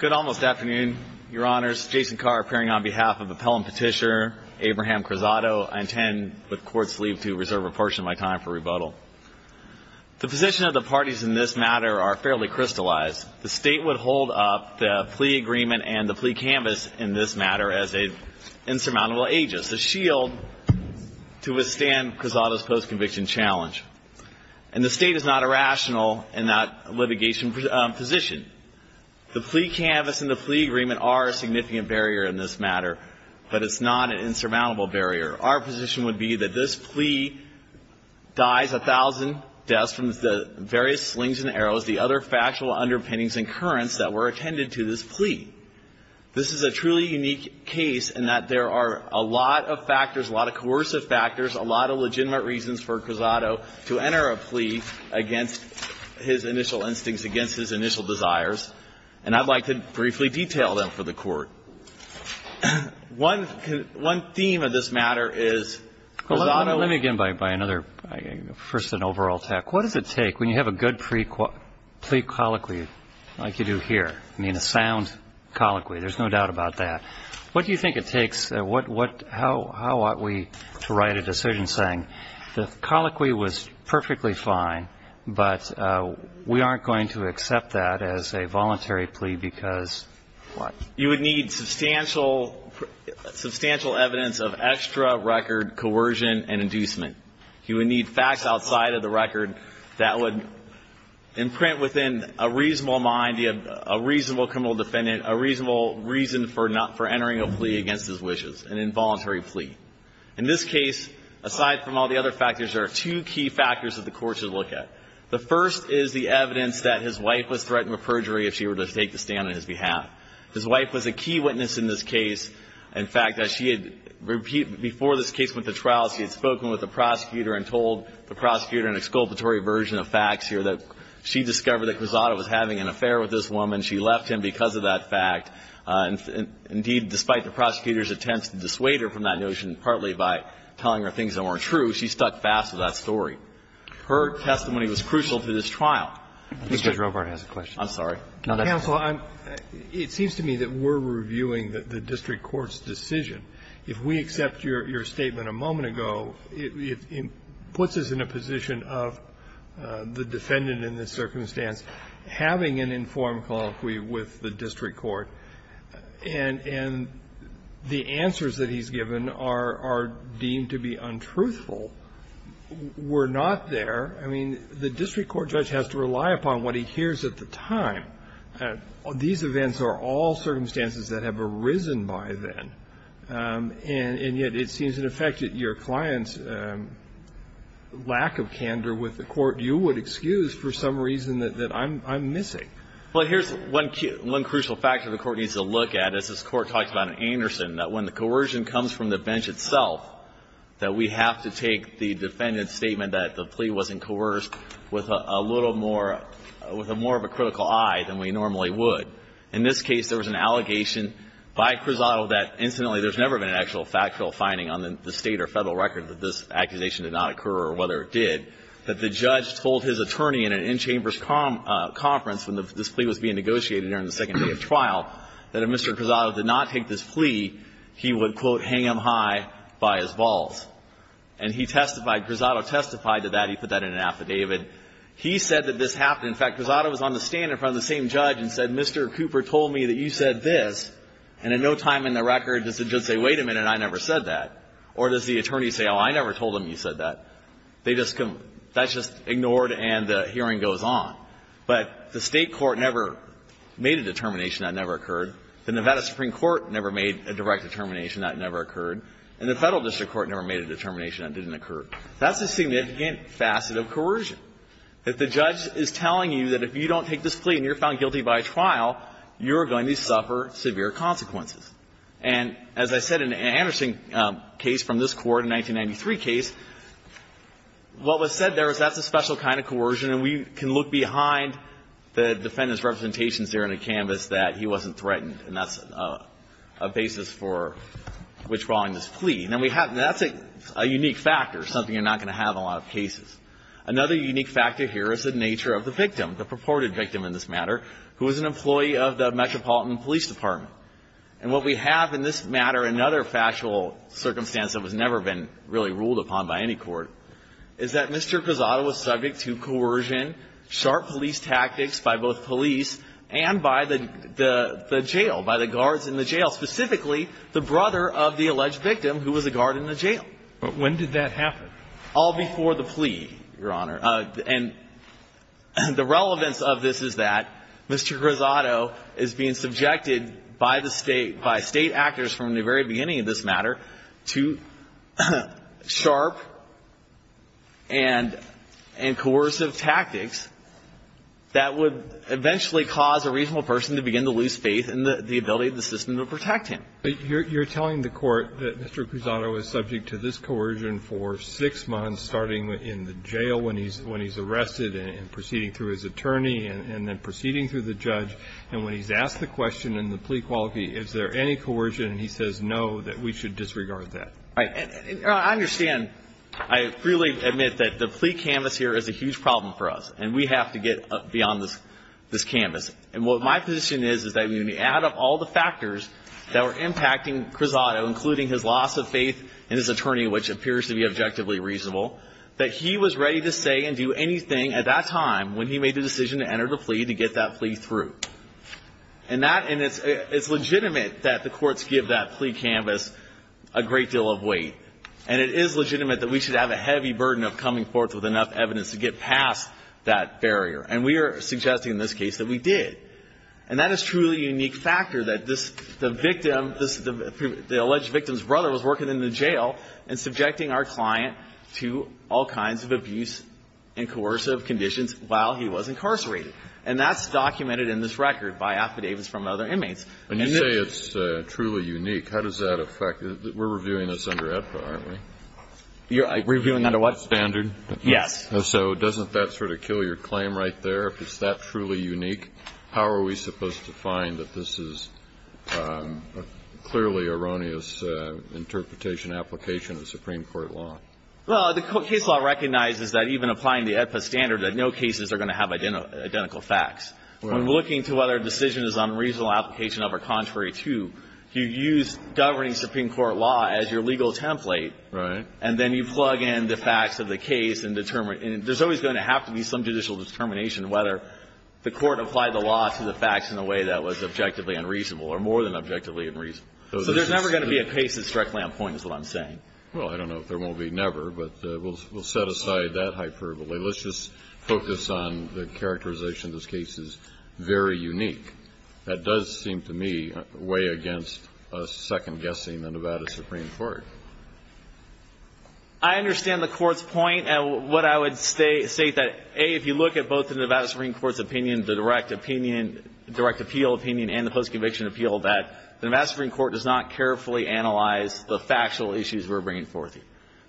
Good almost afternoon, your honors. Jason Carr appearing on behalf of Appellant Petitioner Abraham Cruzado. I intend, with court's leave, to reserve a portion of my time for rebuttal. The position of the parties in this matter are fairly crystallized. The state would hold up the plea agreement and the plea canvas in this matter as an insurmountable aegis, a shield to withstand Cruzado's post-conviction challenge. And the state is not irrational in that litigation position. The plea canvas and the plea agreement are a significant barrier in this matter, but it's not an insurmountable barrier. Our position would be that this plea dies a thousand deaths from the various slings and arrows, the other factual underpinnings and currents that were attended to this plea. This is a truly unique case in that there are a lot of factors, a lot of coercive factors, a lot of legitimate reasons for Cruzado to his initial instincts against his initial desires. And I'd like to briefly detail them for the court. One theme of this matter is Cruzado Let me begin by another, first an overall attack. What does it take when you have a good plea colloquy like you do here, I mean a sound colloquy, there's no doubt about that. What do you think it takes? How ought we to write a decision saying the colloquy was perfectly fine, but we aren't going to accept that as a voluntary plea because what? You would need substantial evidence of extra record coercion and inducement. You would need facts outside of the record that would imprint within a reasonable mind, a reasonable criminal defendant, a reasonable reason for entering a plea against his wishes, an involuntary plea. In this case, aside from all the other factors, there are two key factors that the court should look at. The first is the evidence that his wife was threatened with perjury if she were to take the stand on his behalf. His wife was a key witness in this case. In fact, as she had repeated before this case went to trial, she had spoken with the prosecutor and told the prosecutor an exculpatory version of facts here that she discovered that Cruzado was having an affair with this woman. She left him because of that fact. Indeed, despite the prosecutor's attempts to dissuade her from that notion, partly by telling her things that weren't true, she stuck fast to that story. Her testimony was crucial to this trial. Mr. Robart has a question. I'm sorry. Counsel, it seems to me that we're reviewing the district court's decision. If we accept your statement a moment ago, it puts us in a position of the defendant in this circumstance having an informed colloquy with the district court, and the answers that he's given are deemed to be untruthful. We're not there. I mean, the district court judge has to rely upon what he hears at the time. These events are all circumstances that have arisen by then, and yet it seems, in effect, that your client's lack of candor with the court you would excuse for some reason that I'm missing. Well, here's one crucial fact that the Court needs to look at. As this Court talks about in Anderson, that when the coercion comes from the bench itself, that we have to take the defendant's statement that the plea wasn't coerced with a little more of a critical eye than we normally would. In this case, there was an allegation by Cruzado that, incidentally, there's never been an actual factual finding on the State or Federal record that this accusation did not occur, or whether it did, that the judge told his attorney in an in-chambers conference when this plea was being negotiated during the second day of trial, that if Mr. Cruzado did not take this plea, he would, quote, hang him high by his balls. And he testified, Cruzado testified to that. He put that in an affidavit. He said that this happened. In fact, Cruzado was on the stand in front of the same judge and said, Mr. Cooper told me that you said this, and in no time in the record does the judge say, wait a minute, I never said that. Or does the attorney say, oh, I never told him you said that. They just come, that's just ignored, and the hearing goes on. But the State court never made a determination that it never occurred. The Nevada Supreme Court never made a direct determination that it never occurred. And the Federal District Court never made a determination that it didn't occur. That's a significant facet of coercion, that the judge is telling you that if you don't take this plea and you're found guilty by trial, you're going to suffer severe consequences. And as I said in an interesting case from this Court, a 1993 case, what was said there was that's a special kind of coercion, and we can look behind the defendant's representations there in a canvas that he wasn't threatened, and that's a basis for withdrawing this plea. And that's a unique factor, something you're not going to have in a lot of cases. Another unique factor here is the nature of the victim, the purported victim in this matter, who is an employee of the Metropolitan Police Department. And what we have in this matter, another factual circumstance that has never been really ruled upon by any court, is that Mr. Grisato was subject to coercion, sharp police tactics by both police and by the jail, by the guards in the jail, specifically the brother of the alleged victim who was a guard in the jail. But when did that happen? All before the plea, Your Honor. And the relevance of this is that Mr. Grisato is being subjected by the State, by State actors from the very beginning of this matter to sharp and coercive tactics that would eventually cause a reasonable person to begin to lose faith in the ability of the system to protect him. But you're telling the Court that Mr. Grisato was subject to this coercion for six months, starting in the jail when he's arrested and proceeding through his attorney and then proceeding through the judge. And when he's asked the question in the plea quality, is there any coercion? And he says, no, that we should disregard that. Right. I understand. I freely admit that the plea canvas here is a huge problem for us. And we have to get beyond this canvas. And what my position is, is that when you add up all the factors that were impacting Grisato, including his loss of faith in his attorney, which appears to be objectively reasonable, that he was ready to say and do anything at that time when he made the decision to enter the plea to get that plea through. And that, and it's legitimate that the courts give that plea canvas a great deal of weight. And it is legitimate that we should have a heavy burden of coming forth with enough evidence to get past that barrier. And we are suggesting in this case that we did. And that is truly a unique factor, that this, the victim, the alleged victim's brother was working in the jail and subjecting our client to all kinds of abuse and coercive conditions while he was incarcerated. And that's documented in this record by affidavits from other inmates. And you say it's truly unique. How does that affect, we're reviewing this under AEDPA, aren't we? You're reviewing under what? Standard. Yes. So doesn't that sort of kill your claim right there? If it's that truly unique, how are we supposed to find that this is a clearly erroneous interpretation, application of Supreme Court law? Well, the case law recognizes that even applying the AEDPA standard, that no cases are going to have identical facts. When looking to whether a decision is an unreasonable application of or contrary to, you use governing Supreme Court law as your legal template. Right. And then you plug in the facts of the case and determine. There's always going to have to be some judicial determination whether the court applied the law to the facts in a way that was objectively unreasonable or more than objectively unreasonable. So there's never going to be a case that's directly on point, is what I'm saying. Well, I don't know if there will be never, but we'll set aside that hyperbole. Let's just focus on the characterization of this case is very unique. That does seem to me way against us second-guessing the Nevada Supreme Court. I understand the Court's point. What I would state is that, A, if you look at both the Nevada Supreme Court's opinion, the direct opinion, direct appeal opinion, and the post-conviction appeal, that the Nevada Supreme Court does not carefully analyze the factual issues we're bringing forth here.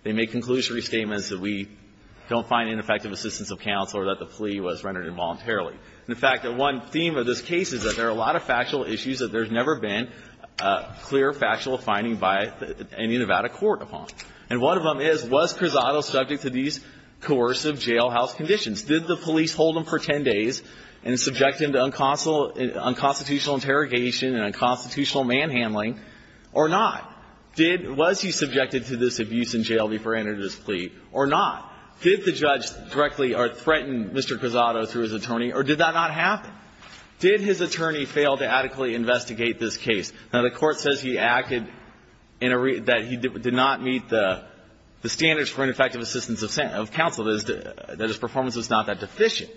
They make conclusory statements that we don't find ineffective assistance of counsel or that the plea was rendered involuntarily. In fact, one theme of this case is that there are a lot of factual issues that there's never been a clear factual finding by any Nevada court upon. And one of them is, was Cruzado subject to these coercive jailhouse conditions? Did the police hold him for 10 days and subject him to unconstitutional interrogation and unconstitutional manhandling, or not? Did he – was he subjected to this abuse in jail before he entered his plea, or not? Did the judge directly threaten Mr. Cruzado through his attorney, or did that not happen? Did his attorney fail to adequately investigate this case? Now, the Court says he acted in a – that he did not meet the standards for ineffective assistance of counsel, that his performance was not that deficient.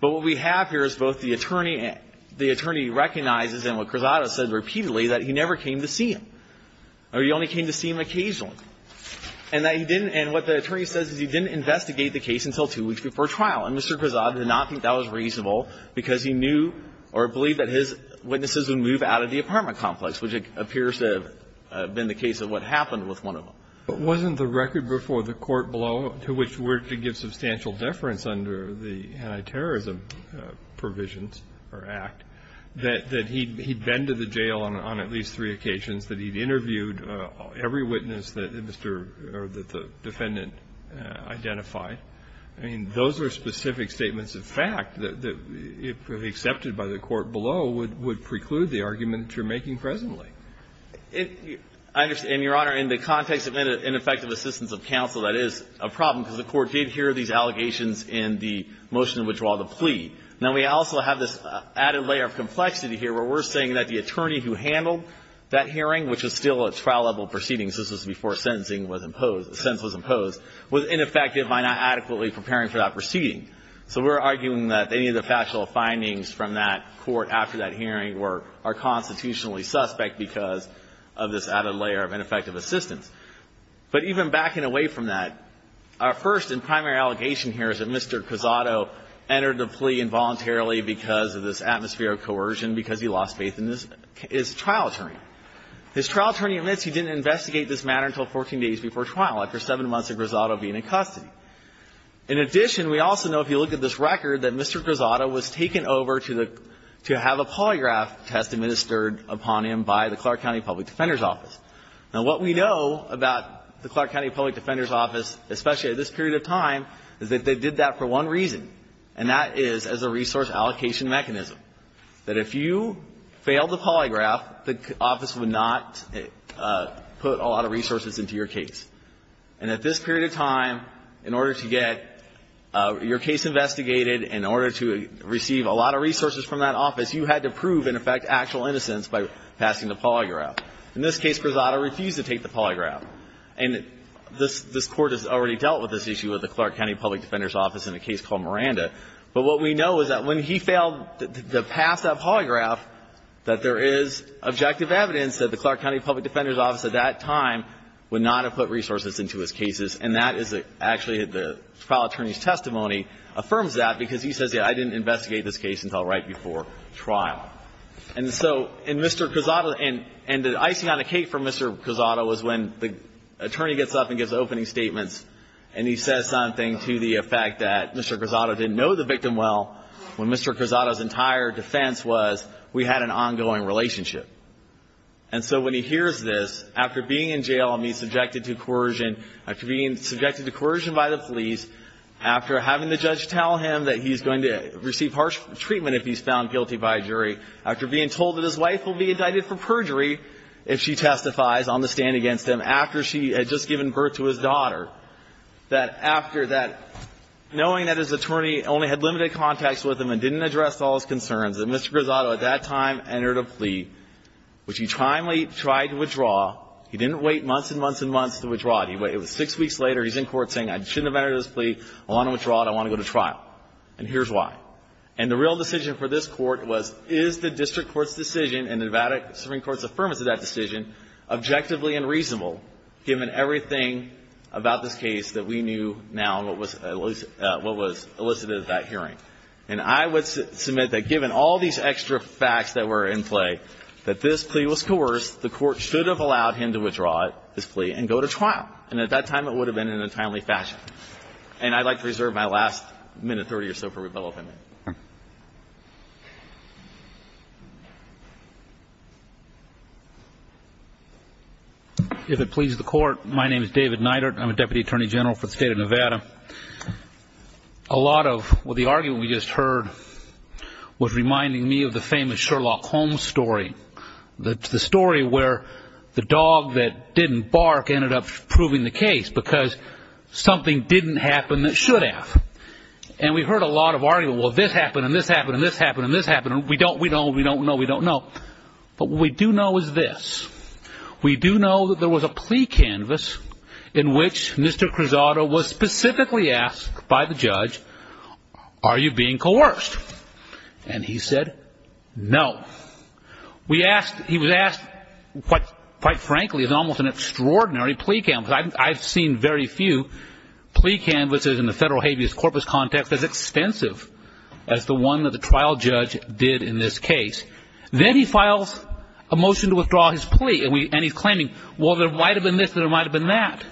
But what we have here is both the attorney – the attorney recognizes, and what Cruzado said repeatedly, that he never came to see him, or he only came to see him occasionally. And that he didn't – and what the attorney says is he didn't investigate the case until two weeks before trial. And Mr. Cruzado did not think that was reasonable because he knew or believed that his witnesses would move out of the apartment complex, which appears to have been the case of what happened with one of them. But wasn't the record before the court blow to which we're to give substantial deference under the Anti-Terrorism Provisions, or Act, that he'd been to the jail on at least three occasions, that he'd interviewed every witness that Mr. – or that the defendant identified? I mean, those are specific statements of fact that, if accepted by the court below, would preclude the argument you're making presently. It – I understand, Your Honor. In the context of ineffective assistance of counsel, that is a problem because the Court did hear these allegations in the motion which draw the plea. Now, we also have this added layer of complexity here, where we're saying that the attorney who handled that hearing, which is still a trial-level proceeding assistance before sentencing was imposed – the sentence was imposed, was ineffective by not adequately preparing for that proceeding. So we're arguing that any of the factual findings from that court after that hearing were – are constitutionally suspect because of this added layer of ineffective assistance. But even backing away from that, our first and primary allegation here is that Mr. Cruzado entered the plea involuntarily because of this atmosphere of coercion, because he lost faith in his trial attorney. His trial attorney admits he didn't investigate this matter until 14 days before trial, after 7 months of Cruzado being in custody. In addition, we also know, if you look at this record, that Mr. Cruzado was taken over to the – to have a polygraph test administered upon him by the Clark County Public Defender's Office. Now, what we know about the Clark County Public Defender's Office, especially at this period of time, is that they did that for one reason, and that is as a resource allocation mechanism, that if you failed the polygraph, the office would not put a lot of resources into your case. And at this period of time, in order to get your case investigated, in order to receive a lot of resources from that office, you had to prove, in effect, actual innocence by passing the polygraph. In this case, Cruzado refused to take the polygraph. And this – this Court has already dealt with this issue with the Clark County Public Defender's Office in a case called Miranda. But what we know is that when he failed to pass that polygraph, that there is objective evidence that the Clark County Public Defender's Office at that time would not have put resources into his cases. And that is – actually, the trial attorney's testimony affirms that, because he says, yes, I didn't investigate this case until right before trial. And so – and Mr. Cruzado – and the icing on the cake for Mr. Cruzado was when the attorney gets up and gives the opening statements, and he says something to the effect that Mr. Cruzado didn't know the victim well, when Mr. Cruzado's entire defense was, we had an ongoing relationship. And so when he hears this, after being in jail and being subjected to coercion, after being subjected to coercion by the police, after having the judge tell him that he's going to receive harsh treatment if he's found guilty by a jury, after being told that his wife will be indicted for perjury if she testifies on the stand against him, after she had just given birth to his daughter, that after that – knowing that his attorney only had limited contacts with him and didn't address all his concerns, that Mr. Cruzado at that time entered a plea, which he timely tried to withdraw. He didn't wait months and months and months to withdraw it. He waited – it was six weeks later. He's in court saying, I shouldn't have entered this plea. I want to withdraw it. I want to go to trial. And here's why. And the real decision for this Court was, is the district court's decision and the Nevada Supreme Court's affirmance of that decision objectively and reasonable, given everything about this case that we knew now and what was – what was elicited at that hearing. And I would submit that given all these extra facts that were in play, that this plea was coerced, the Court should have allowed him to withdraw it, this plea, and go to trial. And at that time, it would have been in a timely fashion. And I'd like to reserve my last minute, 30 or so, for rebuttal if I may. If it pleases the Court, my name is David Neidert. I'm a Deputy Attorney General for the state of Nevada. A lot of the argument we just heard was reminding me of the famous Sherlock Holmes story. The story where the dog that didn't bark ended up proving the case because something didn't happen that should have. And we heard a lot of argument, well, this happened, and this happened, and this happened, and this happened, and we don't – we don't – we don't know, we don't know. But what we do know is this. We do know that there was a plea canvas in which Mr. Cruzado was specifically asked by the judge, are you being coerced? And he said, no. We asked – he was asked what, quite frankly, is almost an extraordinary plea canvas. I've seen very few plea canvases in the federal habeas corpus context as extensive as the one that the trial judge did in this case. Then he files a motion to withdraw his plea, and he's claiming, well, there might have been this, there might have been that.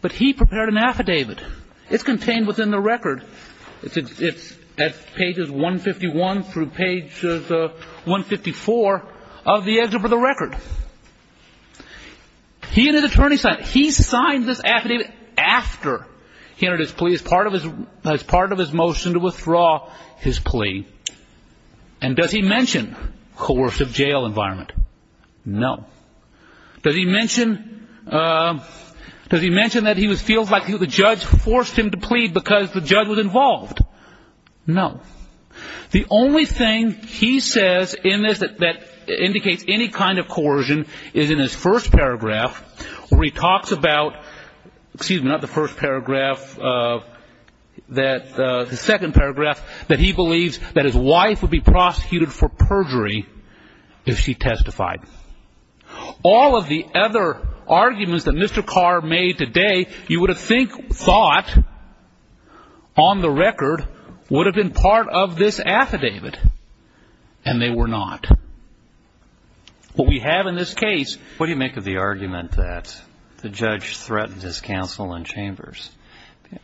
But he prepared an affidavit. It's contained within the record. It's at pages 151 through pages 154 of the excerpt of the record. He and his attorney signed – he signed this affidavit after he entered his plea as part of his motion to withdraw his plea. And does he mention coercive jail environment? No. Does he mention – does he mention that he feels like the judge forced him to plead because the judge was involved? No. The only thing he says in this that indicates any kind of coercion is in his first paragraph where he talks about – excuse me, not the first paragraph, that – the second paragraph that he believes that his wife would be prosecuted for perjury if she testified. All of the other arguments that Mr. Carr made today, you would have thought, on the record, would have been part of this affidavit. And they were not. What we have in this case – what do you make of the argument that the judge threatened his counsel in Chambers?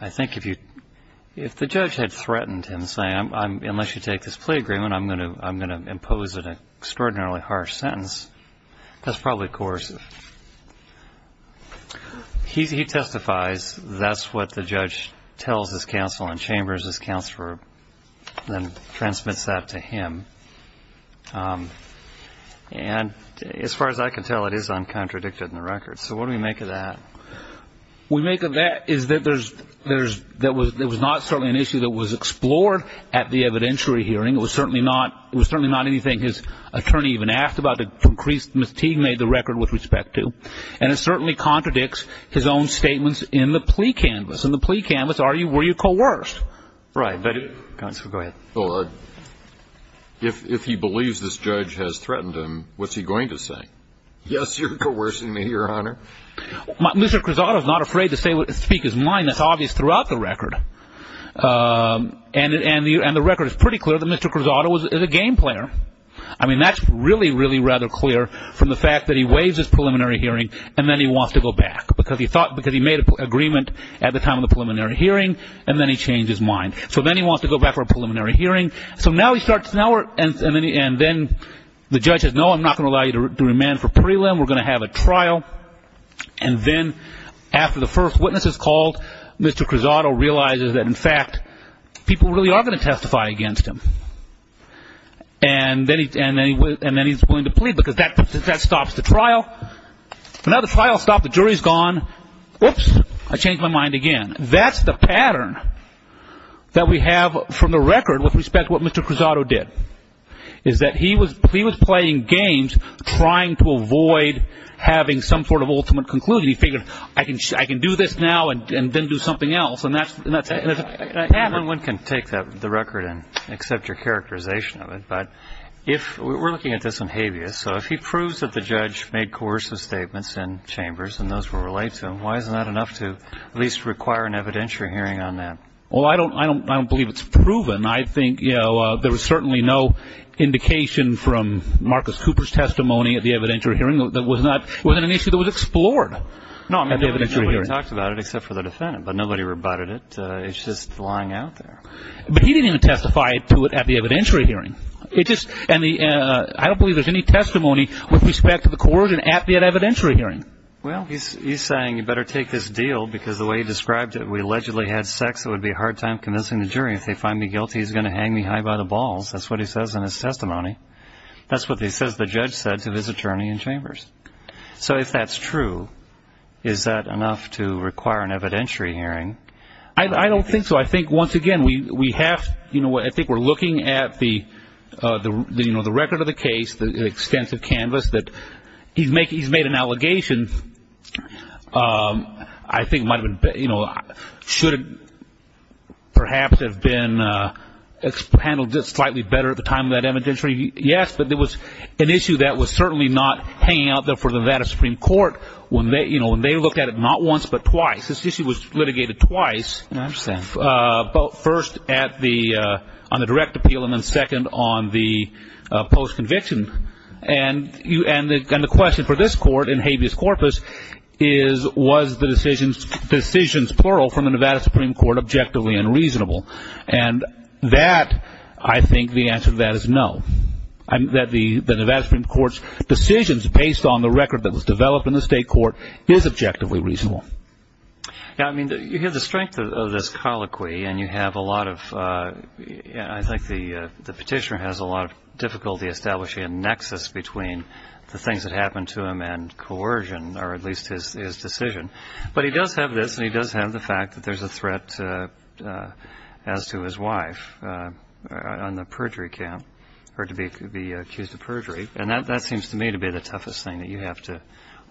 I think if you – if the judge had threatened him saying, unless you take this plea agreement, I'm going to impose an extraordinarily harsh sentence, that's probably coercive. He testifies. That's what the judge tells his counsel. And as far as I can tell, it is uncontradicted in the record. So what do we make of that? We make of that is that there's – there was not certainly an issue that was explored at the evidentiary hearing. It was certainly not – it was certainly not anything his attorney even asked about that increased – Ms. Teague made the record with respect to. And it certainly contradicts his own statements in the plea canvas. In the plea canvas, are you – were you coerced? Right. But – counsel, go ahead. Well, if he believes this judge has threatened him, what's he going to say? Yes, you're coercing me, Your Honor. Mr. Cruzado is not afraid to say what – speak his mind. That's obvious throughout the record. And the record is pretty clear that Mr. Cruzado is a game player. I mean, that's really, really rather clear from the fact that he waives his preliminary hearing and then he wants to go back because he thought – because he made an agreement at the time of the preliminary hearing and then he changed his mind. So then he wants to go back for a preliminary hearing. So now he starts – now we're – and then the judge says, no, I'm not going to allow you to remand for prelim. We're going to have a trial. And then after the first witness is called, Mr. Cruzado realizes that, in fact, people really are going to testify against him. And then he's willing to plead because that stops the trial. So now the trial's stopped. The jury's gone. Oops, I changed my mind again. That's the pattern that we have from the record with respect to what Mr. Cruzado did, is that he was playing games trying to avoid having some sort of ultimate conclusion. He figured, I can do this now and then do something else. And that's – and that's happened. No one can take that – the record and accept your characterization of it. But if – we're looking at this in habeas. So if he proves that the judge made coercive statements in chambers and those were related to him, why is that enough to at least require an evidentiary hearing on that? Well, I don't believe it's proven. I think there was certainly no indication from Marcus Cooper's testimony at the evidentiary hearing that was not – wasn't an issue that was explored at the evidentiary hearing. No, I mean, nobody talked about it except for the defendant. But nobody rebutted it. It's just lying out there. But he didn't even testify to it at the evidentiary hearing. It just – and the – I don't believe there's any testimony with respect to the coercion at the evidentiary hearing. Well, he's saying you better take this deal because the way he described it, we allegedly had sex. It would be a hard time convincing the jury. If they find me guilty, he's going to hang me high by the balls. That's what he says in his testimony. That's what he says the judge said to his attorney in chambers. So if that's true, is that enough to require an evidentiary hearing? I don't think so. I think, once again, we have – I think we're looking at the record of the case, the extensive canvas that – he's made an allegation. I think it might have been – should have perhaps have been handled just slightly better at the time of that evidentiary – yes, but it was an issue that was certainly not hanging out there for the Nevada Supreme Court when they looked at it not once but twice. This issue was litigated twice, first at the – on the direct appeal and then second on the post-conviction. And the question for this court in habeas corpus is, was the decisions – decisions, plural – from the Nevada Supreme Court objectively unreasonable? And that – I think the answer to that is no. That the Nevada Supreme Court's decisions based on the record that was developed in the state court is objectively reasonable. Now, I mean, you hear the strength of this colloquy, and you have a lot of – I think the petitioner has a lot of difficulty establishing a nexus between the things that happened to him and coercion, or at least his decision. But he does have this, and he does have the fact that there's a threat as to his wife on the perjury count, her to be accused of perjury. And that seems to me to be the toughest thing that you have to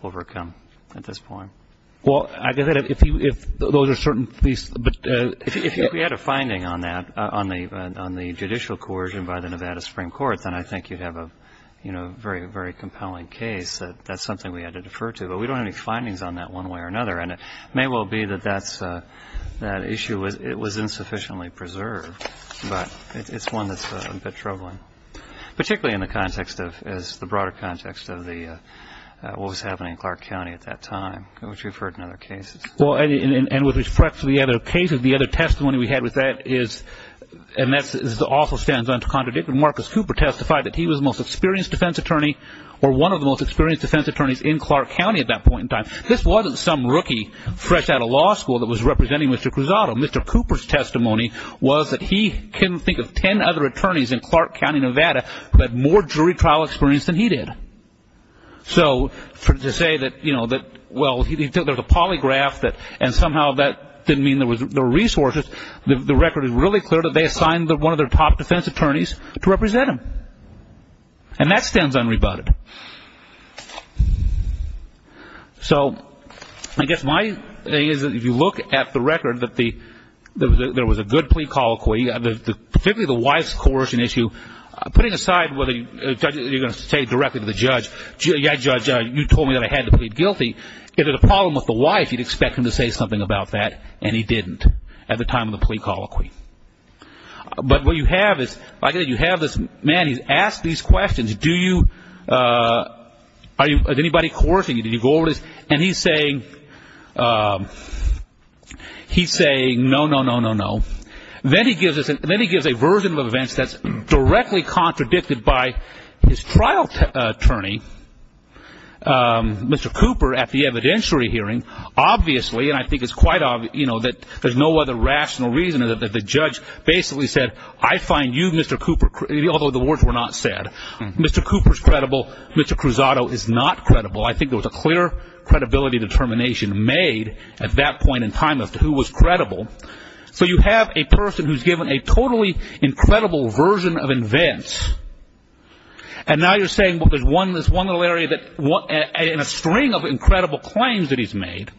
overcome at this point. Well, I guess that if you – if those are certain things – but – If you had a finding on that, on the judicial coercion by the Nevada Supreme Court, then I think you'd have a, you know, very, very compelling case that that's something we had to defer to. But we don't have any findings on that one way or another. And it may well be that that's – that issue was – it was insufficiently preserved. But it's one that's a bit troubling, particularly in the context of – as the broader context of the – what was happening in Clark County at that time, which we've heard in other cases. Well, and with respect to the other cases, the other testimony we had with that is – and that also stands unto contradiction. Marcus Cooper testified that he was the most experienced defense attorney, or one of the most experienced defense attorneys in Clark County at that point in time. This wasn't some rookie fresh out of law school that was representing Mr. Cruzado. Mr. Cooper's testimony was that he couldn't think of 10 other attorneys in Clark County, Nevada, who had more jury trial experience than he did. So, to say that, you know, that – well, he took – there's a polygraph that – and somehow that didn't mean there were resources. The record is really clear that they assigned one of their top defense attorneys to represent him. And that stands unrebutted. So, I guess my thing is, if you look at the record, that the – there was a good plea colloquy. Particularly the wife's coercion issue, putting aside whether you're going to say directly to the judge, yeah, judge, you told me that I had to plead guilty. If there's a problem with the wife, you'd expect him to say something about that, and he didn't at the time of the plea colloquy. But what you have is – like I said, you have this man, he's asked these questions, do you – are you – is anybody coercing you? Did you go over this? And he's saying, he's saying no, no, no, no, no. Then he gives us – then he gives a version of events that's directly contradicted by his trial attorney, Mr. Cooper, at the evidentiary hearing. Obviously, and I think it's quite – you know, that there's no other rational reason that the judge basically said, I find you, Mr. Cooper – although the words were not said. Mr. Cooper's credible. Mr. Cruzado is not credible. I think there was a clear credibility determination made at that point in time as to who was credible. So you have a person who's given a totally incredible version of events, and now you're saying, well, there's one little area that – and a string of incredible claims that he's made,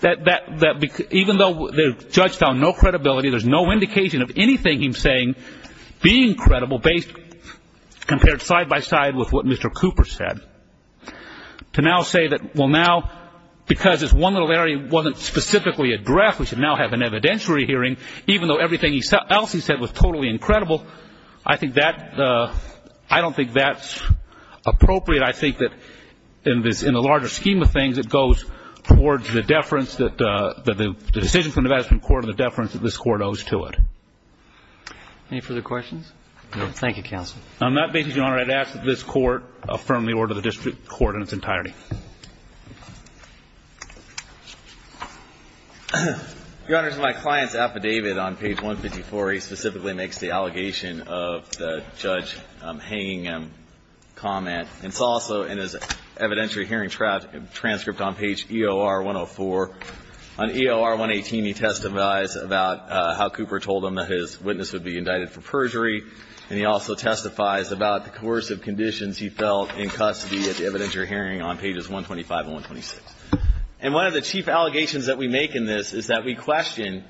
that even though the judge found no credibility, there's no indication of anything he's saying being credible based – compared side by side with what Mr. Cooper said. To now say that, well, now, because this one little area wasn't specifically addressed, we should now have an evidentiary hearing, even though everything else he said was totally incredible, I think that – I don't think that's appropriate. I think that in this – in the larger scheme of things, it goes towards the deference that the decision of the Supreme Court and the deference that this Court owes to it. Any further questions? No. Thank you, counsel. On that basis, Your Honor, I'd ask that this Court affirm the order of the district court in its entirety. Your Honor, my client's affidavit on page 154A specifically makes the allegation of the judge hanging him comment. And it's also in his evidentiary hearing transcript on page about how Cooper told him that his witness would be indicted for perjury, and he also testifies about the coercive conditions he felt in custody at the evidentiary hearing on pages 125 and 126. And one of the chief allegations that we make in this is that we question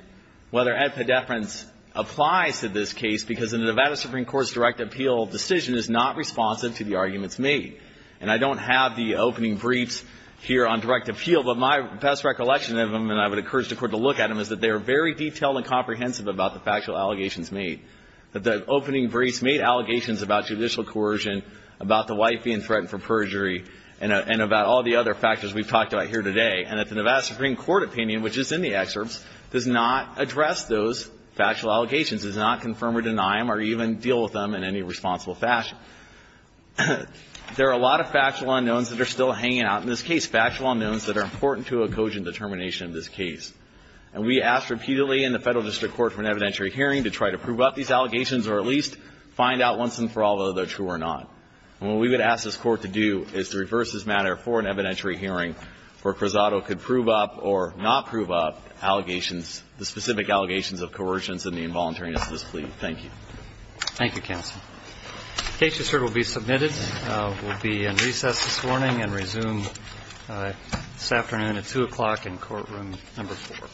whether epideference applies to this case, because the Nevada Supreme Court's direct appeal decision is not responsive to the arguments made. And I don't have the opening briefs here on is that they are very detailed and comprehensive about the factual allegations made, that the opening briefs made allegations about judicial coercion, about the wife being threatened for perjury, and about all the other factors we've talked about here today, and that the Nevada Supreme Court opinion, which is in the excerpts, does not address those factual allegations, does not confirm or deny them or even deal with them in any responsible fashion. There are a lot of factual unknowns that are still hanging out in this case, factual unknowns that are important to a cogent determination of this case. And we ask repeatedly in the Federal District Court for an evidentiary hearing to try to prove up these allegations or at least find out once and for all whether they're true or not. And what we would ask this Court to do is to reverse this matter for an evidentiary hearing where Cruzado could prove up or not prove up allegations, the specific allegations of coercion and the involuntariness of this plea. Thank you. Thank you, counsel. The case, you've heard, will be submitted. We'll be in recess this morning and resume this afternoon at 2 o'clock in courtroom number four. Thank you.